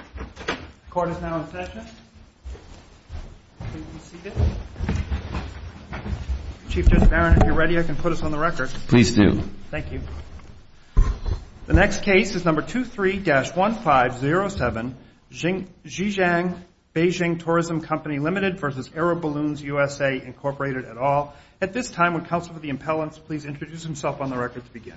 At this time, would Counsel for the Impellents please introduce himself on the record to begin.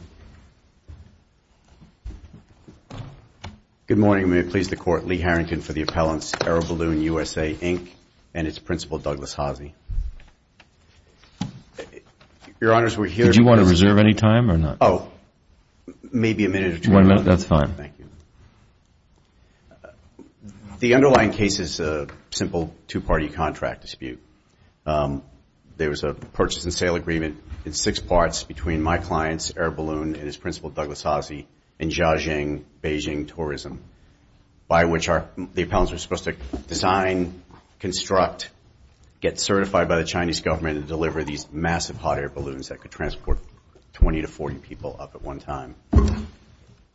Good morning, and may it please the Court, Lee Harrington for the Impellents, AeroBalloon USA, Inc., and its Principal, Douglas Haase. The underlying case is a simple two-party contract dispute. There was a purchase and sale agreement in six parts between my client, AeroBalloon, and his Principal, Douglas Haase, in Zhajing, Beijing, Tourism, by which the impellents were supposed to design, construct, get certified by the Chinese government, and deliver these massive hot air balloons that could transport 20 to 40 people up at one time.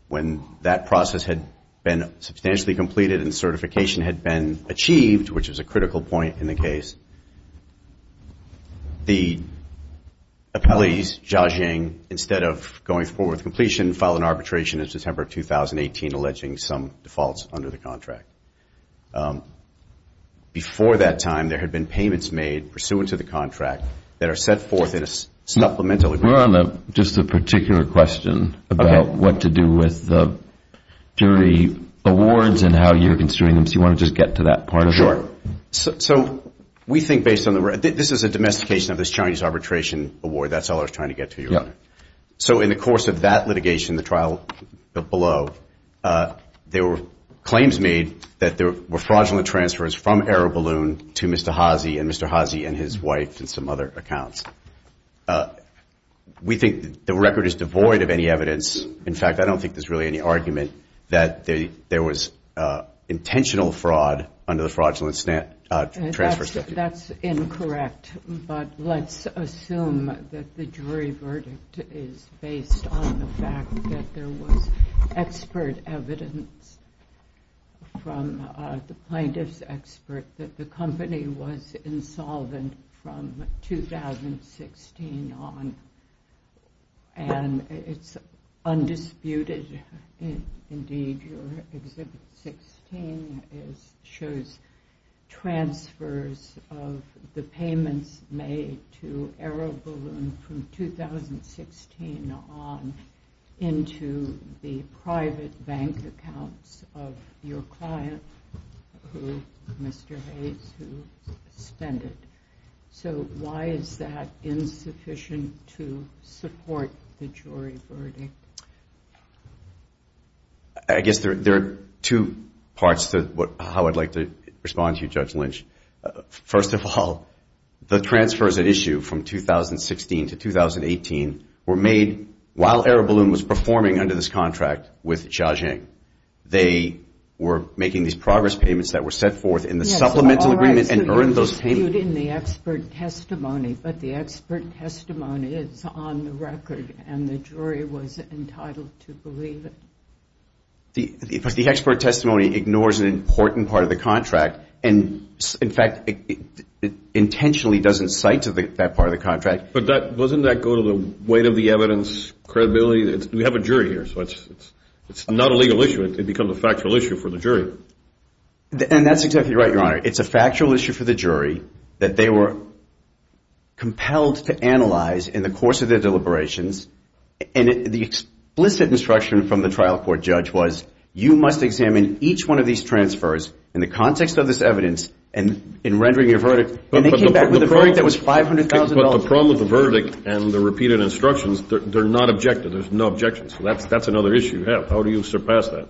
When that process had been substantially completed and certification had been achieved, which was a critical point in the case, the appellees, Zhajing, instead of going forward with completion, filed an arbitration in September of 2018 alleging some defaults under the contract. Before that time, there had been payments made pursuant to the contract that are set forth in a supplemental agreement. We're on just a particular question about what to do with the jury awards and how you're going to get to that part of it. Sure. So we think, based on the record, this is a domestication of this Chinese arbitration award. That's all I was trying to get to, Your Honor. Yeah. So in the course of that litigation, the trial below, there were claims made that there were fraudulent transfers from AeroBalloon to Mr. Haase and Mr. Haase and his wife and some other accounts. We think the record is devoid of any evidence. In fact, I don't think there's really any argument that there was intentional fraud under the fraudulent transfer statute. That's incorrect. But let's assume that the jury verdict is based on the fact that there was expert evidence from the plaintiff's expert that the company was insolvent from 2016 on. And it's undisputed, indeed, your Exhibit 16 shows transfers of the payments made to AeroBalloon from 2016 on into the private bank accounts of your client, Mr. Haase, who suspended. So why is that insufficient to support the jury verdict? I guess there are two parts to how I'd like to respond to you, Judge Lynch. First of all, the transfers at issue from 2016 to 2018 were made while AeroBalloon was performing under this contract with Jia Jing. They were making these progress payments that were set forth in the supplemental agreement and earned those payments. It's not disputed in the expert testimony, but the expert testimony is on the record and the jury was entitled to believe it. The expert testimony ignores an important part of the contract and, in fact, it intentionally doesn't cite that part of the contract. But doesn't that go to the weight of the evidence, credibility? We have a jury here, so it's not a legal issue. It becomes a factual issue for the jury. And that's exactly right, your Honor. It's a factual issue for the jury that they were compelled to analyze in the course of their deliberations and the explicit instruction from the trial court judge was, you must examine each one of these transfers in the context of this evidence and in rendering your verdict. And they came back with a verdict that was $500,000. But the problem with the verdict and the repeated instructions, they're not objective. There's no objection. So that's another issue you have. How do you surpass that?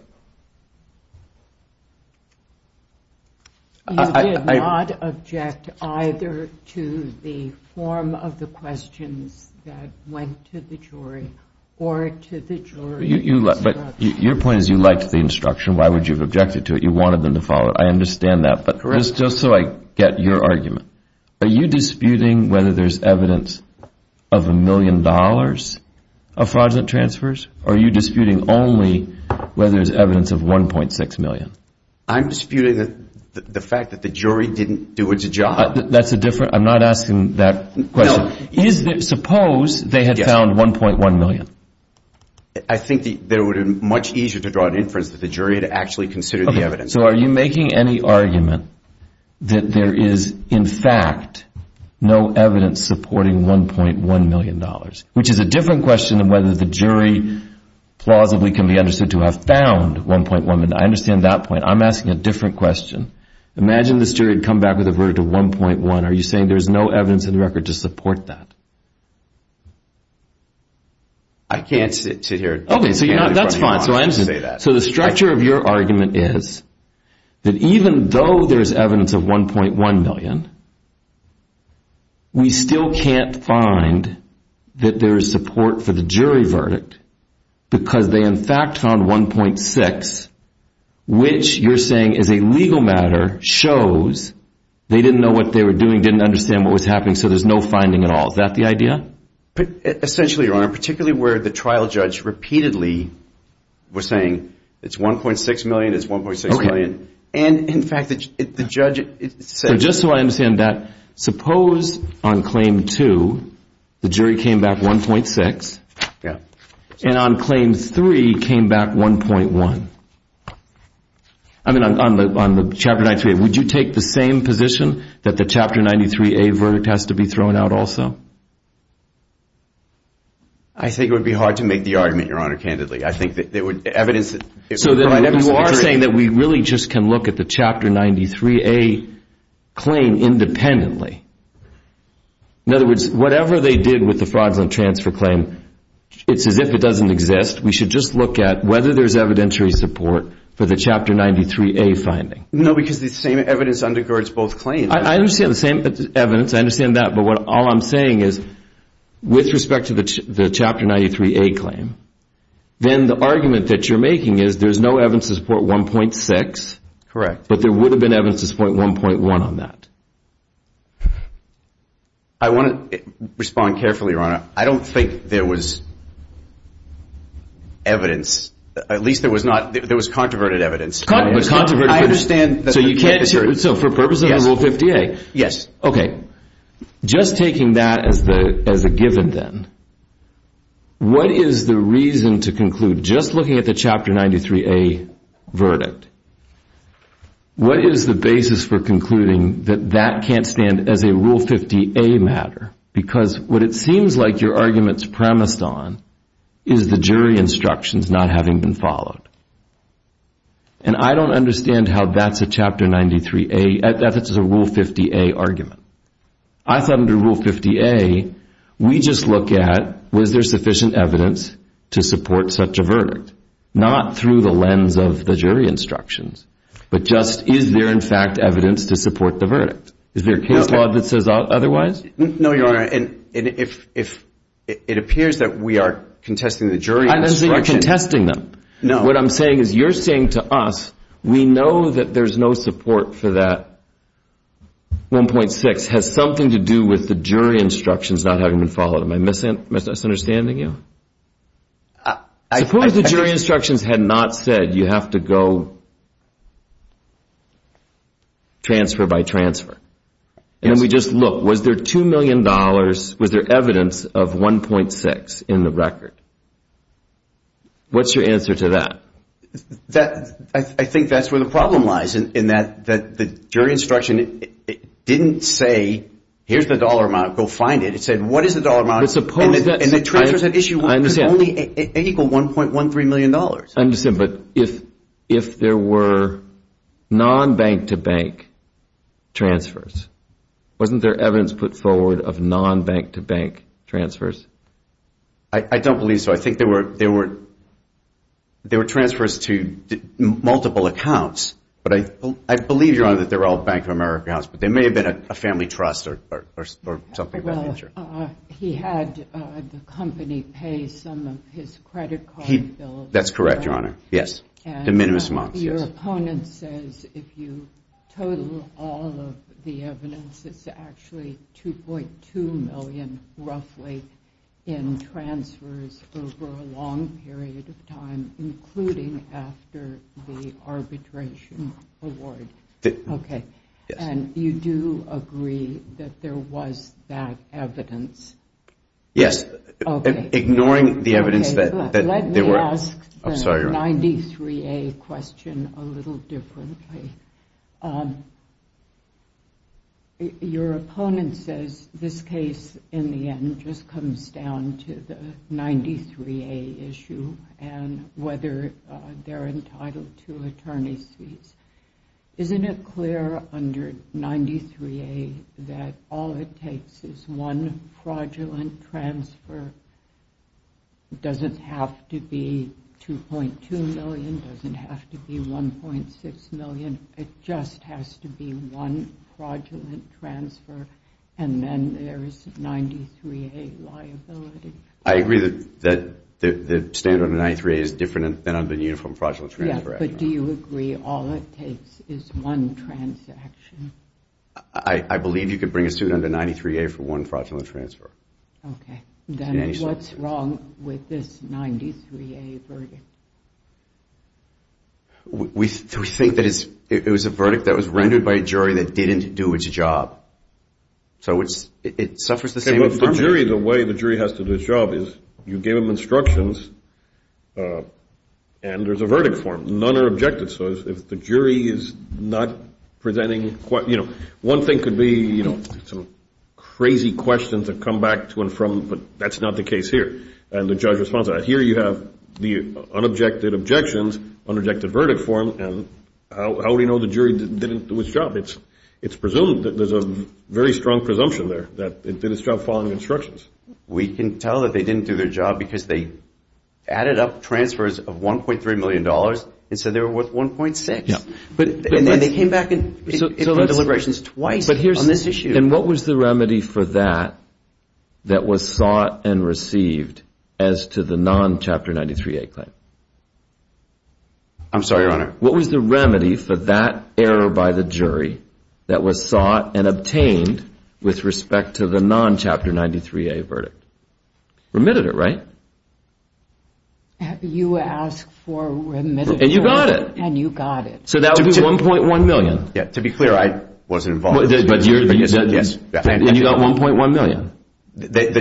You did not object either to the form of the questions that went to the jury or to the jury's instruction. But your point is you liked the instruction. Why would you have objected to it? You wanted them to follow it. I understand that. Correct. But just so I get your argument, are you disputing whether there's evidence of a million dollars of fraudulent transfers? Are you disputing only whether there's evidence of $1.6 million? I'm disputing the fact that the jury didn't do its job. That's a different, I'm not asking that question. Suppose they had found $1.1 million. I think that it would have been much easier to draw an inference of the jury to actually consider the evidence. So are you making any argument that there is, in fact, no evidence supporting $1.1 million? Which is a different question than whether the jury plausibly can be understood to have found $1.1 million. I understand that point. I'm asking a different question. Imagine this jury had come back with a verdict of $1.1 million. Are you saying there's no evidence in the record to support that? I can't sit here and say that. So the structure of your argument is that even though there's evidence of $1.1 million, we still can't find that there's support for the jury verdict because they, in fact, found $1.6 million, which you're saying is a legal matter, shows they didn't know what they were doing, didn't understand what was happening, so there's no finding at all. Is that the idea? Essentially, Your Honor, particularly where the trial judge repeatedly was saying it's $1.6 million, it's $1.6 million. And in fact, the judge said... So just so I understand that, suppose on Claim 2, the jury came back $1.6, and on Claim 3 came back $1.1. I mean, on the Chapter 93A, would you take the same position that the Chapter 93A verdict has to be thrown out also? I think it would be hard to make the argument, Your Honor, candidly. I think that there would be evidence... So then you are saying that we really just can look at the Chapter 93A claim independently. In other words, whatever they did with the fraudulent transfer claim, it's as if it doesn't exist. We should just look at whether there's evidentiary support for the Chapter 93A finding. No, because the same evidence undergirds both claims. I understand the same evidence. I understand that. But all I'm saying is, with respect to the Chapter 93A claim, then the argument that you're making is, there's no evidence to support $1.6, but there would have been evidence to support $1.1 on that. I want to respond carefully, Your Honor. I don't think there was evidence. At least there was not... There was controverted evidence. Controverted evidence. I understand that... So you can't... So for purposes of Rule 50A... Yes. Okay. Just taking that as a given then, what is the reason to conclude, just looking at the Chapter 93A verdict, what is the basis for concluding that that can't stand as a Rule 50A matter? Because what it seems like your argument's premised on is the jury instructions not having been followed. And I don't understand how that's a Chapter 93A... That's a Rule 50A argument. I thought under Rule 50A, we just look at, was there sufficient evidence to support such a verdict? Not through the lens of the jury instructions, but just, is there, in fact, evidence to support the verdict? Is there a case law that says otherwise? No, Your Honor. And if it appears that we are contesting the jury instructions... I'm not saying you're contesting them. What I'm saying is you're saying to us, we know that there's no support for that $1.6, has something to do with the jury instructions not having been followed. Am I misunderstanding you? I... Suppose the jury instructions had not said you have to go transfer by transfer, and we just look, was there $2 million, was there evidence of $1.6 in the record? What's your answer to that? I think that's where the problem lies, in that the jury instruction didn't say, here's the dollar amount, go find it. It said, what is the dollar amount? And the transfers at issue was only, it equaled $1.13 million. I understand, but if there were non-bank-to-bank transfers, wasn't there evidence put forward of non-bank-to-bank transfers? I don't believe so. I think there were transfers to multiple accounts, but I believe, Your Honor, that they were all Bank of America accounts, but there may have been a family trust or something of that nature. He had the company pay some of his credit card bills. That's correct, Your Honor. Yes. The minimum amounts, yes. And your opponent says if you total all of the evidence, it's actually $2.2 million, roughly, in transfers over a long period of time, including after the arbitration award. Okay. Yes. And you do agree that there was that evidence? Yes. Okay. Ignoring the evidence that there were... Let me ask the 93A question a little differently. Your opponent says this case, in the end, just comes down to the 93A issue and whether they're entitled to attorney's fees. Isn't it clear under 93A that all it takes is one fraudulent transfer? Doesn't have to be $2.2 million, doesn't have to be $1.6 million, it just has to be one fraudulent transfer, and then there's 93A liability? I agree that the standard in 93A is different than under the Uniform Fraudulent Transfer Act. But do you agree all it takes is one transaction? I believe you could bring a student under 93A for one fraudulent transfer. Okay. Then what's wrong with this 93A verdict? We think that it was a verdict that was rendered by a jury that didn't do its job. So it suffers the same infirmity. The way the jury has to do its job is you give them instructions and there's a verdict form. None are objective. So if the jury is not presenting, one thing could be some crazy questions that come back to and from, but that's not the case here. And the judge responds to that. Here you have the unobjected objections, unobjected verdict form, and how do we know the jury didn't do its job? It's presumed that there's a very strong presumption there that it did its job following instructions. We can tell that they didn't do their job because they added up transfers of $1.3 million and said they were worth $1.6. Yeah. And then they came back in deliberations twice on this issue. And what was the remedy for that that was sought and received as to the non-Chapter 93A claim? I'm sorry, Your Honor. What was the remedy for that error by the jury that was sought and obtained with respect to the non-Chapter 93A verdict? Remitted it, right? You asked for remitted it. And you got it. And you got it. So that would be $1.1 million. Yeah. To be clear, I wasn't involved. But you said yes. And you got $1.1 million.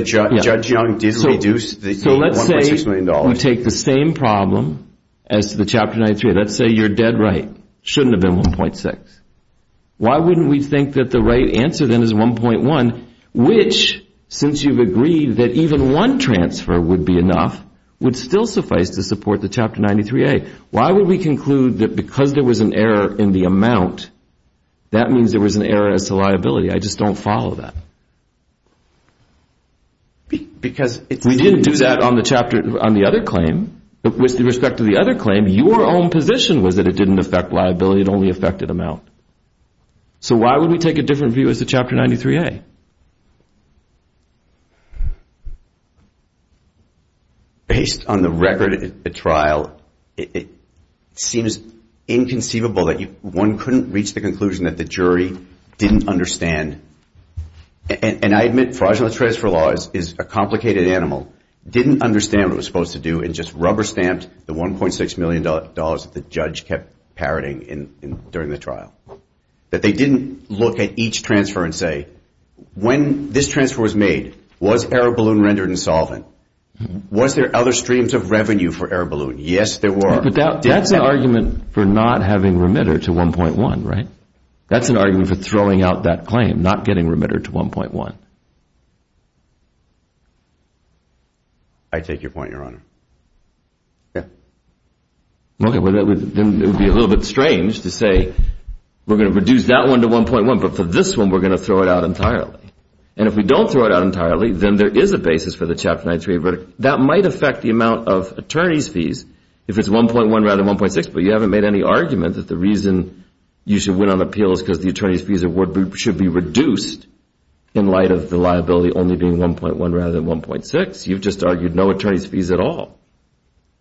Judge Young did reduce the $1.6 million. So let's say you take the same problem as to the Chapter 93A. Let's say you're dead right. It shouldn't have been $1.6. Why wouldn't we think that the right answer then is $1.1? Which, since you've agreed that even one transfer would be enough, would still suffice to support the Chapter 93A. Why would we conclude that because there was an error in the amount, that means there was an error as to liability? I just don't follow that. Because it's... We didn't do that on the other claim, but with respect to the other claim, your own position was that it didn't affect liability, it only affected amount. So why would we take a different view as to Chapter 93A? Based on the record at the trial, it seems inconceivable that one couldn't reach the conclusion that the jury didn't understand. And I admit fraudulent transfer laws is a complicated animal. Didn't understand what it was supposed to do and just rubber-stamped the $1.6 million that the judge kept parroting during the trial. That they didn't look at each transfer and say, when this transfer was made, was error balloon rendered insolvent? Was there other streams of revenue for error balloon? Yes, there were. But that's an argument for not having remitter to 1.1, right? That's an argument for throwing out that claim, not getting remitter to 1.1. I take your point, Your Honor. Yeah. Well, then it would be a little bit strange to say, we're going to reduce that one to 1.1, but for this one, we're going to throw it out entirely. And if we don't throw it out entirely, then there is a basis for the Chapter 93 verdict. That might affect the amount of attorney's fees if it's 1.1 rather than 1.6, but you haven't made any argument that the reason you should win on appeal is because the attorney's fees should be reduced in light of the liability only being 1.1 rather than 1.6. You've just argued no attorney's fees at all.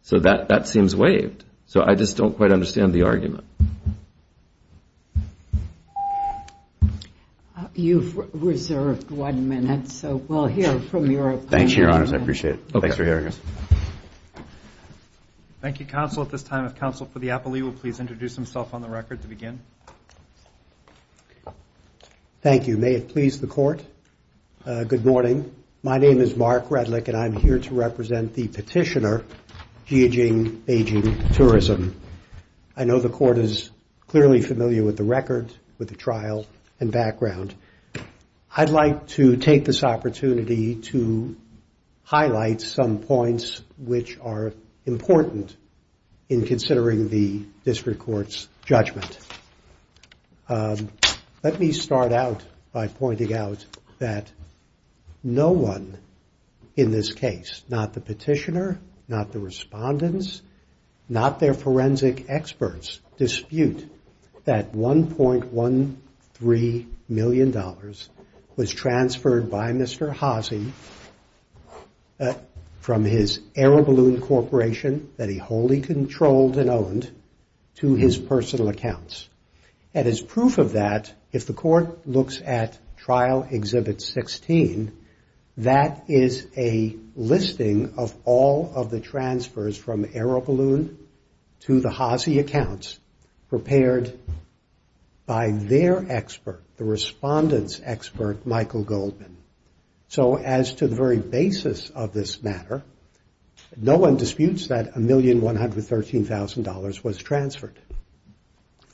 So, that seems waived. So, I just don't quite understand the argument. You've reserved one minute, so we'll hear from your opponent. Thank you, Your Honor. I appreciate it. Thanks for hearing us. Thank you, counsel. At this time, if counsel for the appellee will please introduce himself on the record to begin. Thank you. May it please the Court. Good morning. My name is Mark Redlich, and I'm here to represent the petitioner, Jiajing Beijing Tourism. I know the Court is clearly familiar with the record, with the trial, and background. I'd like to take this opportunity to highlight some points which are important in considering the district court's judgment. Let me start out by pointing out that no one in this case, not the petitioner, not the was transferred by Mr. Haase from his AeroBalloon Corporation that he wholly controlled and owned to his personal accounts. And as proof of that, if the Court looks at Trial Exhibit 16, that is a listing of all of the transfers from AeroBalloon to the Haase accounts prepared by their expert, the responsible respondents expert, Michael Goldman. So as to the very basis of this matter, no one disputes that $1,113,000 was transferred.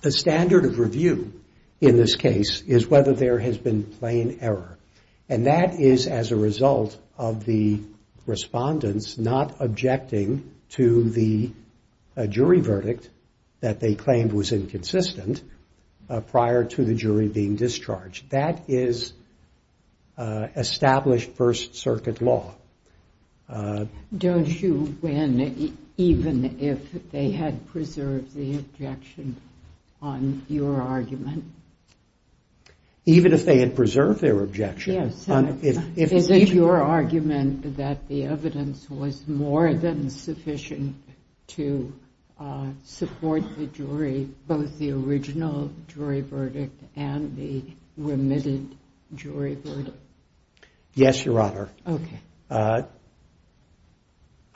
The standard of review in this case is whether there has been plain error. And that is as a result of the respondents not objecting to the jury verdict that they had preserved the objection on your argument. Even if they had preserved their objection. Is it your argument that the evidence was more than sufficient to support the jury, both the Yes, Your Honor.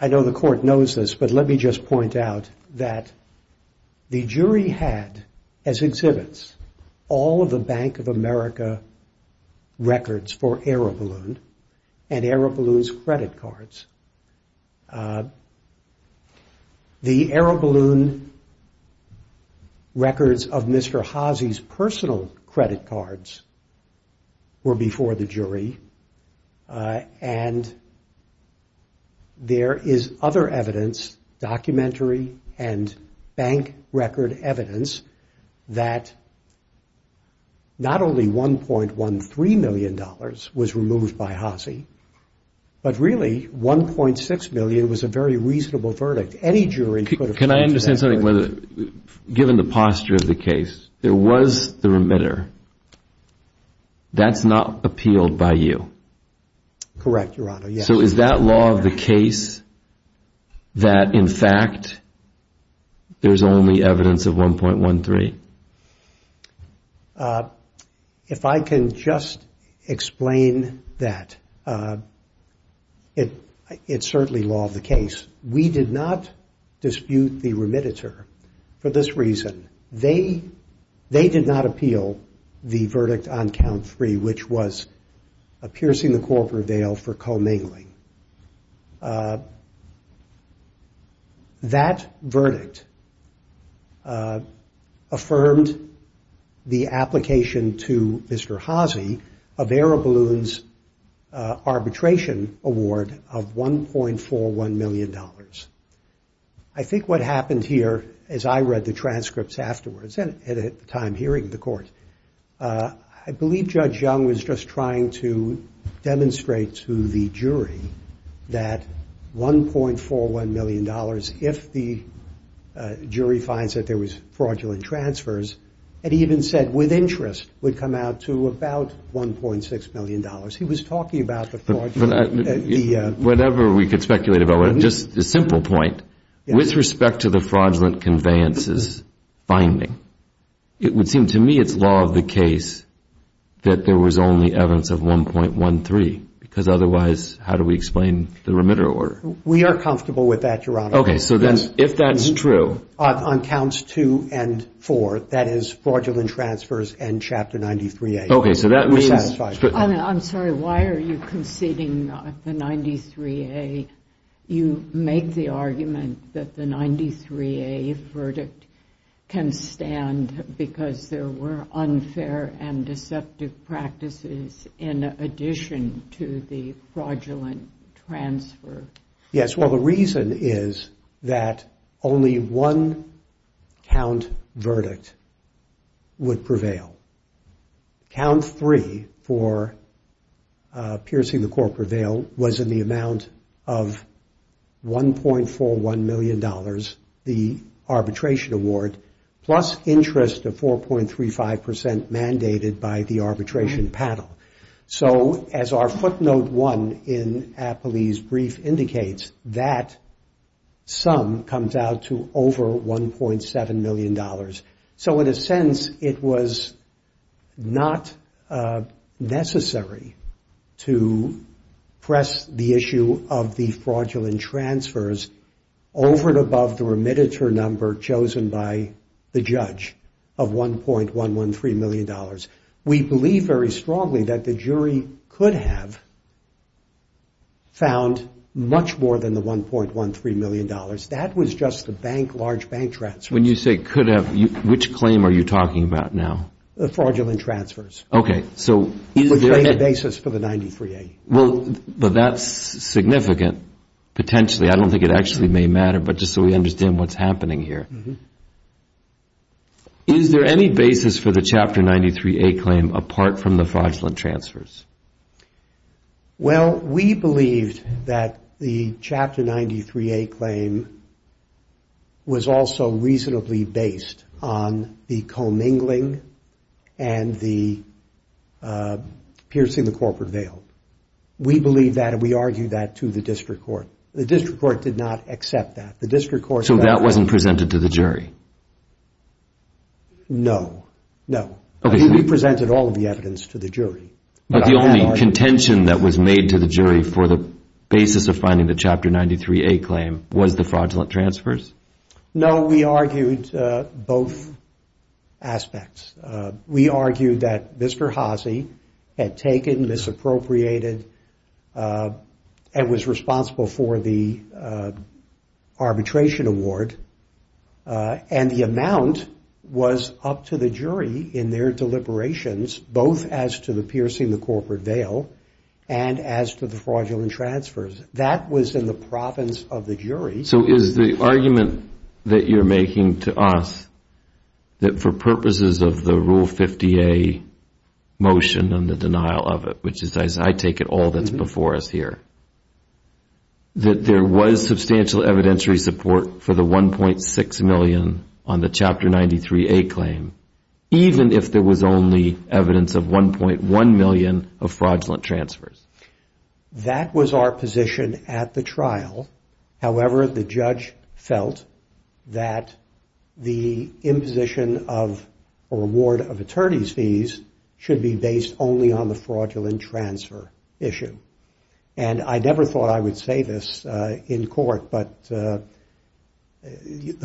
I know the Court knows this, but let me just point out that the jury had, as exhibits, all of the Bank of America records for AeroBalloon and AeroBalloon's credit cards. The AeroBalloon records of Mr. Haase's personal credit cards were not present. They were before the jury. And there is other evidence, documentary and bank record evidence, that not only $1,113,000 was removed by Haase, but really $1,600,000 was a very reasonable verdict. Any jury could have found that. Your Honor, given the posture of the case, there was the remitter. That's not appealed by you. Correct, Your Honor. So is that law of the case that, in fact, there's only evidence of $1,113,000? If I can just explain that, it's certainly law of the case. We did not dispute the remitter for this reason. They did not appeal the verdict on count three, which was a piercing the corporate veil for commingling. That verdict affirmed the application to Mr. Haase of AeroBalloon's arbitration award of $1.41 million. I think what happened here, as I read the transcripts afterwards, and at the time hearing the court, I believe Judge Young was just trying to demonstrate to the jury that $1.41 million, if the jury finds that there was fraudulent transfers, had even said with interest, would come out to about $1.6 million. He was talking about the fraud. Whatever we could speculate about, just a simple point, with respect to the fraudulent conveyances finding, it would seem to me it's law of the case that there was only evidence of $1.13,000, and four, that is fraudulent transfers and Chapter 93A. I'm sorry, why are you conceding the 93A? You make the argument that the 93A verdict can stand because there were unfair and deceptive practices in addition to the fraudulent transfer. Yes, well, the reason is that only one count verdict would prevail. Count three for piercing the court prevail was in the amount of $1.41 million, the arbitration award, plus interest of 4.35% mandated by the arbitration panel. So, as our footnote one in Appley's brief indicates, that sum comes out to over $1.7 million. So, in a sense, it was not necessary to press the issue of the fraudulent transfers over and above the remittance or number chosen by the judge of $1.113 million. We believe very strongly that the jury could have found much more than the $1.13 million. That was just the bank, large bank transfers. When you say could have, which claim are you talking about now? Fraudulent transfers. Okay. But that's significant, potentially. I don't think it actually may matter, but just so we understand what's happening here. Is there any basis for the Chapter 93A claim apart from the fraudulent transfers? Well, we believe that the Chapter 93A claim was also reasonably based on the commingling and the piercing the court prevail. We believe that and we argue that to the district court. The district court did not accept that. So that wasn't presented to the jury? No, no. We presented all of the evidence to the jury. But the only contention that was made to the jury for the basis of finding the Chapter 93A claim was the fraudulent transfers? No, we argued both aspects. We argued that Mr. Haase had taken, misappropriated, and was responsible for the arbitration award. And the amount was up to the jury in their deliberations, both as to the piercing the corporate veil and as to the fraudulent transfers. That was in the province of the jury. So is the argument that you're making to us that for purposes of the Rule 50A motion and the denial of it, which is, as I take it, all that's before us here, that there was substantial evidentiary support for the 1.6 million on the Chapter 93A claim, even if there was only evidence of 1.1 million of fraudulent transfers? That was our position at the trial. However, the judge felt that the imposition of a reward of attorney's fees should be based only on the fraudulent transfer issue. And I never thought I would say this in court, but the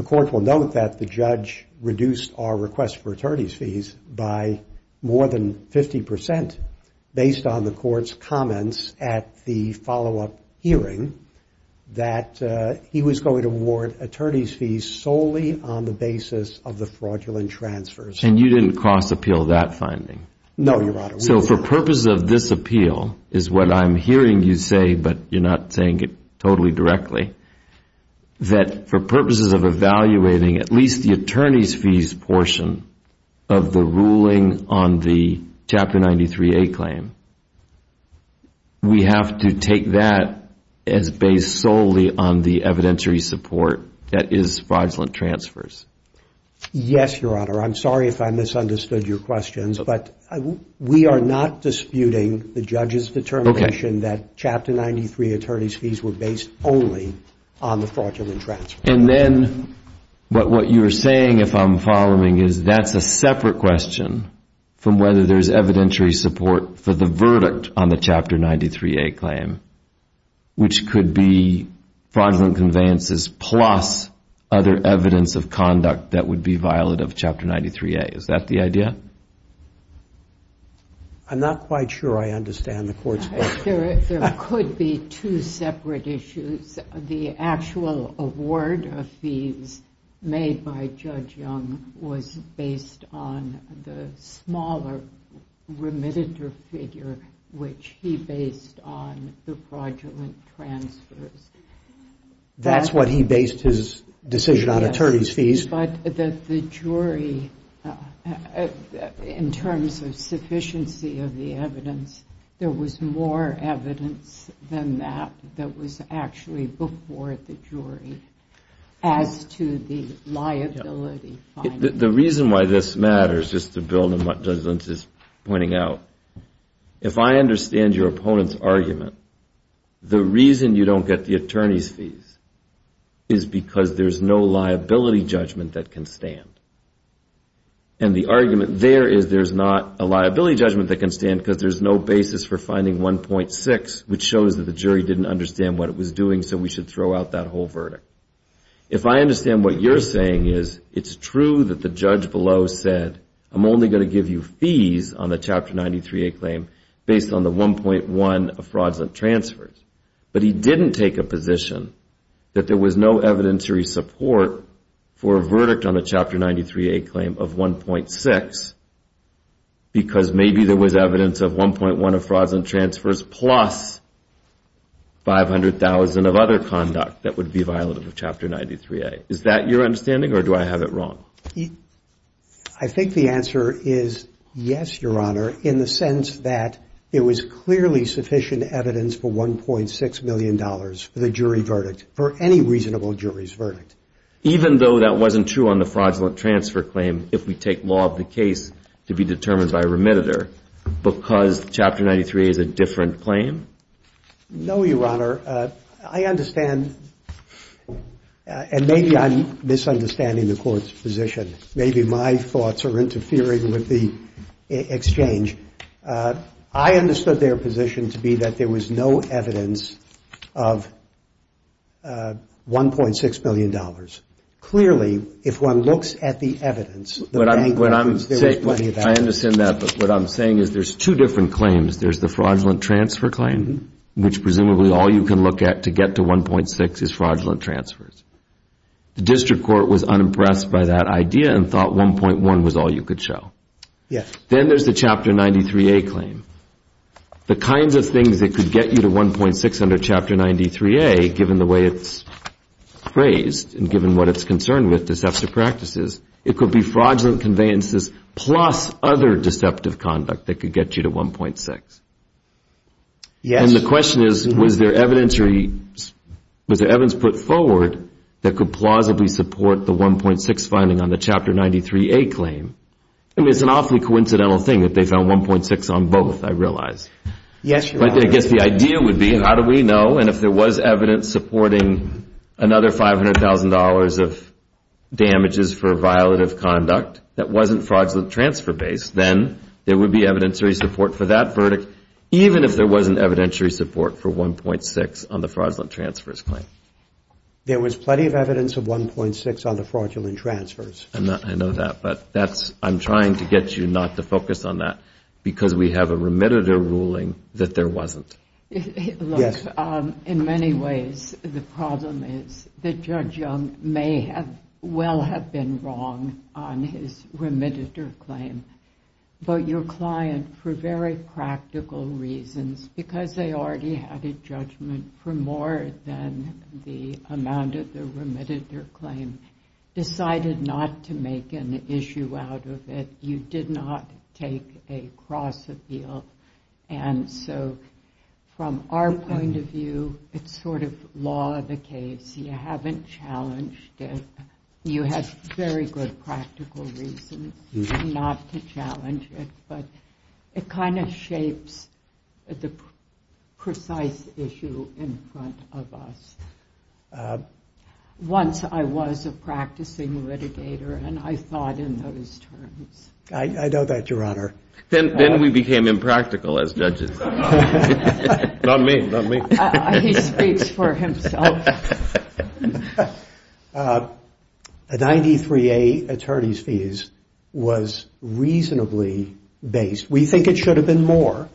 court will note that the judge reduced our request for attorney's fees by more than 50 percent, based on the court's comments at the follow-up hearing, that he was going to award attorney's fees solely on the basis of the fraudulent transfers. And you didn't cross-appeal that finding? No, Your Honor. So for purposes of this appeal, is what I'm hearing you say, but you're not saying it totally directly, that for purposes of evaluating at least the attorney's fees portion of the ruling on the Chapter 93A claim, we have to take that as based solely on the evidentiary support that is fraudulent transfers? Yes, Your Honor. I'm sorry if I misunderstood your questions, but we are not disputing the judge's determination that Chapter 93 attorney's fees were based only on the fraudulent transfers. And then, but what you're saying, if I'm following, is that's a separate question from whether there's evidentiary support for the verdict on the Chapter 93A claim, which could be fraudulent conveyances plus other evidence of conduct that would be violent of Chapter 93A. Is that the idea? I'm not quite sure I understand the court's question. There could be two separate issues. The actual award of fees made by Judge Young was based on the smaller remitted figure, which he based on the fraudulent transfers. That's what he based his decision on, attorney's fees. But the jury, in terms of sufficiency of the evidence, there was more evidence than that that was actually before the jury, as to the liability. The reason why this matters, just to build on what Judge Lentz is pointing out, if I understand your opponent's argument, the reason you don't get the attorney's fees is because there's no liability judgment that can stand. And the argument there is there's not a liability judgment that can stand because there's no basis for finding 1.6, which shows that the jury didn't understand what it was doing, so we should throw out that whole verdict. If I understand what you're saying, it's true that the judge below said I'm only going to give you fees on the Chapter 93A claim based on the 1.1 of fraudulent transfers. But he didn't take a position that there was no evidentiary support for a verdict on the Chapter 93A claim of 1.6, because maybe there was evidence of 1.1 of fraudulent transfers plus 500,000 of other conduct that would be violative of Chapter 93A. Is that your understanding, or do I have it wrong? I think the answer is yes, Your Honor, in the sense that it was clearly sufficient evidence for $1.6 million for the jury verdict, for any reasonable jury's verdict. Even though that wasn't true on the fraudulent transfer claim if we take law of the case to be determined by remittitor, because Chapter 93A is a different claim? No, Your Honor. I understand, and maybe I'm misunderstanding the Court's position. Maybe my thoughts are interfering with the exchange. I understood their position to be that there was no evidence of $1.6 million. Clearly, if one looks at the evidence, there is plenty of evidence. I understand that, but what I'm saying is there's two different claims. There's the fraudulent transfer claim, which presumably all you can look at to get to 1.6 is fraudulent transfers. The District Court was unimpressed by that idea and thought 1.1 was all you could show. Then there's the Chapter 93A claim. The kinds of things that could get you to 1.6 under Chapter 93A, given the way it's phrased and given what it's concerned with, it could be fraudulent conveyances plus other deceptive conduct that could get you to 1.6. And the question is, was there evidence put forward that could plausibly support the 1.6 finding on the Chapter 93A claim? It's an awfully coincidental thing that they found 1.6 on both, I realize. But I guess the idea would be, how do we know? And if there was evidence supporting another $500,000 of damages for violative conduct that wasn't fraudulent transfer-based, then there would be evidentiary support for that verdict, even if there wasn't evidentiary support for 1.6 on the fraudulent transfers claim. There was plenty of evidence of 1.6 on the fraudulent transfers. I know that, but I'm trying to get you not to focus on that, because we have a remitter ruling that there wasn't. Look, in many ways, the problem is that Judge Young may well have been wrong on his remitter claim, but your client, for very practical reasons, because they already had a judgment for more than the amount of the remitter claim, decided not to make an issue out of it. You did not take a cross-appeal. And so, from our point of view, it's sort of law of the caves. You haven't challenged it. You had very good practical reasons not to challenge it, but it kind of shapes the precise issue in front of us. Once, I was a practicing litigator, and I thought in those terms. I know that, Your Honor. Then we became impractical as judges. 93A attorney's fees was reasonably based. We think it should have been more,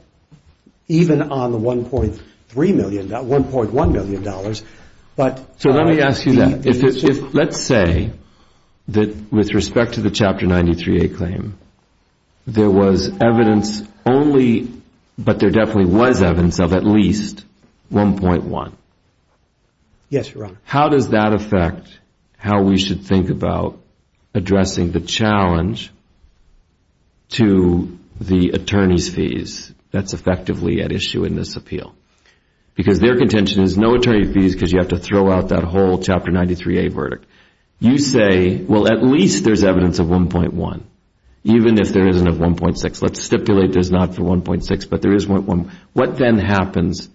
even on the $1.1 million. So let me ask you that. Let's say that, with respect to the Chapter 93A claim, there was evidence only, but there definitely was evidence of at least $1.1 million. Yes, Your Honor. How does that affect how we should think about addressing the challenge to the attorney's fees that's effectively at issue in this appeal? Because their contention is no attorney fees because you have to throw out that whole Chapter 93A verdict. You say, well, at least there's evidence of $1.1, even if there isn't of $1.6. Let's stipulate there's not for $1.6, but there is $1.1. What then happens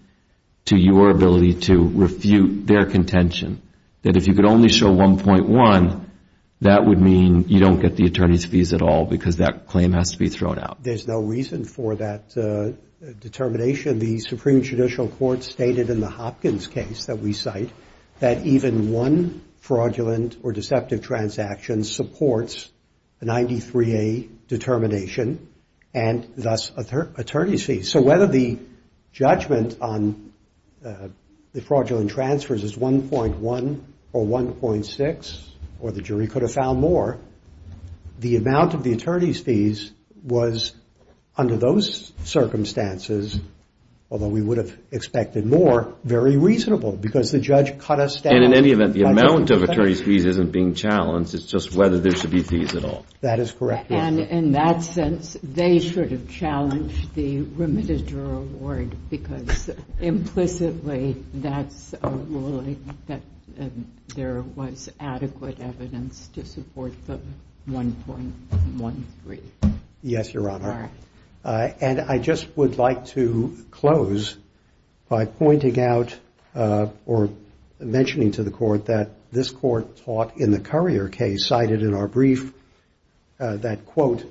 to your ability to refute their contention, that if you could only show $1.1, that would mean you don't get the attorney's fees at all because that claim has to be thrown out? There's no reason for that determination. The Supreme Judicial Court stated in the Hopkins case that we cite that even one fraudulent or deceptive transaction supports a 93A determination and thus attorney's fees. So whether the judgment on the fraudulent transfers is $1.1 or $1.6, or the jury could have found more, the amount of the attorney's fees was, under those circumstances, although we would have expected more, very reasonable because the judge cut us down. And in any event, the amount of attorney's fees isn't being challenged. It's just whether there should be fees at all. That is correct. And in that sense, they should have challenged the remitted juror award because implicitly, that's a ruling that there was adequate evidence to support the $1.13. Yes, Your Honor. And I just would like to close by pointing out or mentioning to the Court that this Court taught in the Currier case, and cited in our brief, that, quote,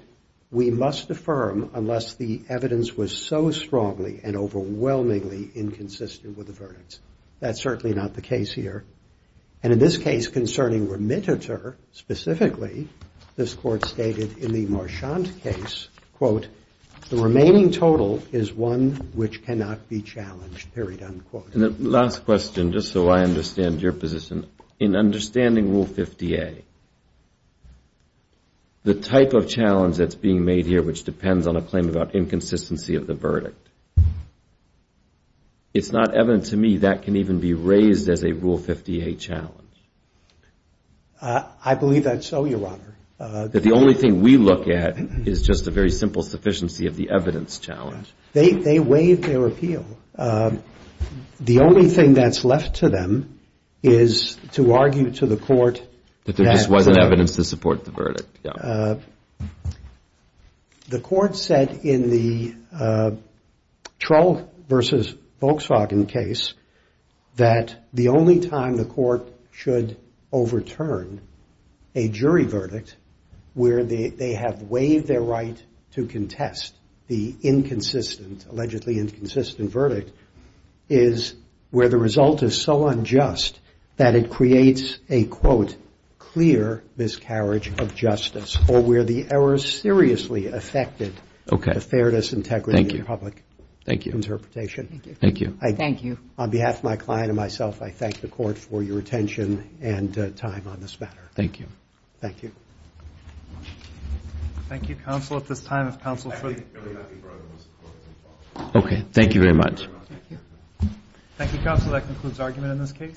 we must affirm unless the evidence was so strongly and overwhelmingly inconsistent with the verdicts. That's certainly not the case here. And in this case concerning remitted juror, specifically, this Court stated in the Marchant case, quote, that the remaining total is one which cannot be challenged, period, unquote. And the last question, just so I understand your position, in understanding Rule 50A, the type of challenge that's being made here which depends on a claim about inconsistency of the verdict, it's not evident to me that can even be raised as a Rule 50A challenge. I believe that's so, Your Honor. That the only thing we look at is just a very simple sufficiency of the evidence challenge. They waive their appeal. The only thing that's left to them is to argue to the Court. That there just wasn't evidence to support the verdict. The Court said in the Troll versus Volkswagen case that the only time the Court should overturn a jury verdict where they have waived their right to contest the inconsistent, allegedly inconsistent verdict is where the result is so unjust that it creates a, quote, clear miscarriage of justice or where the error is seriously affected. Okay. Thank you. On behalf of my client and myself, I thank the Court for your attention and time on this matter. Thank you. Thank you. Okay. Thank you very much.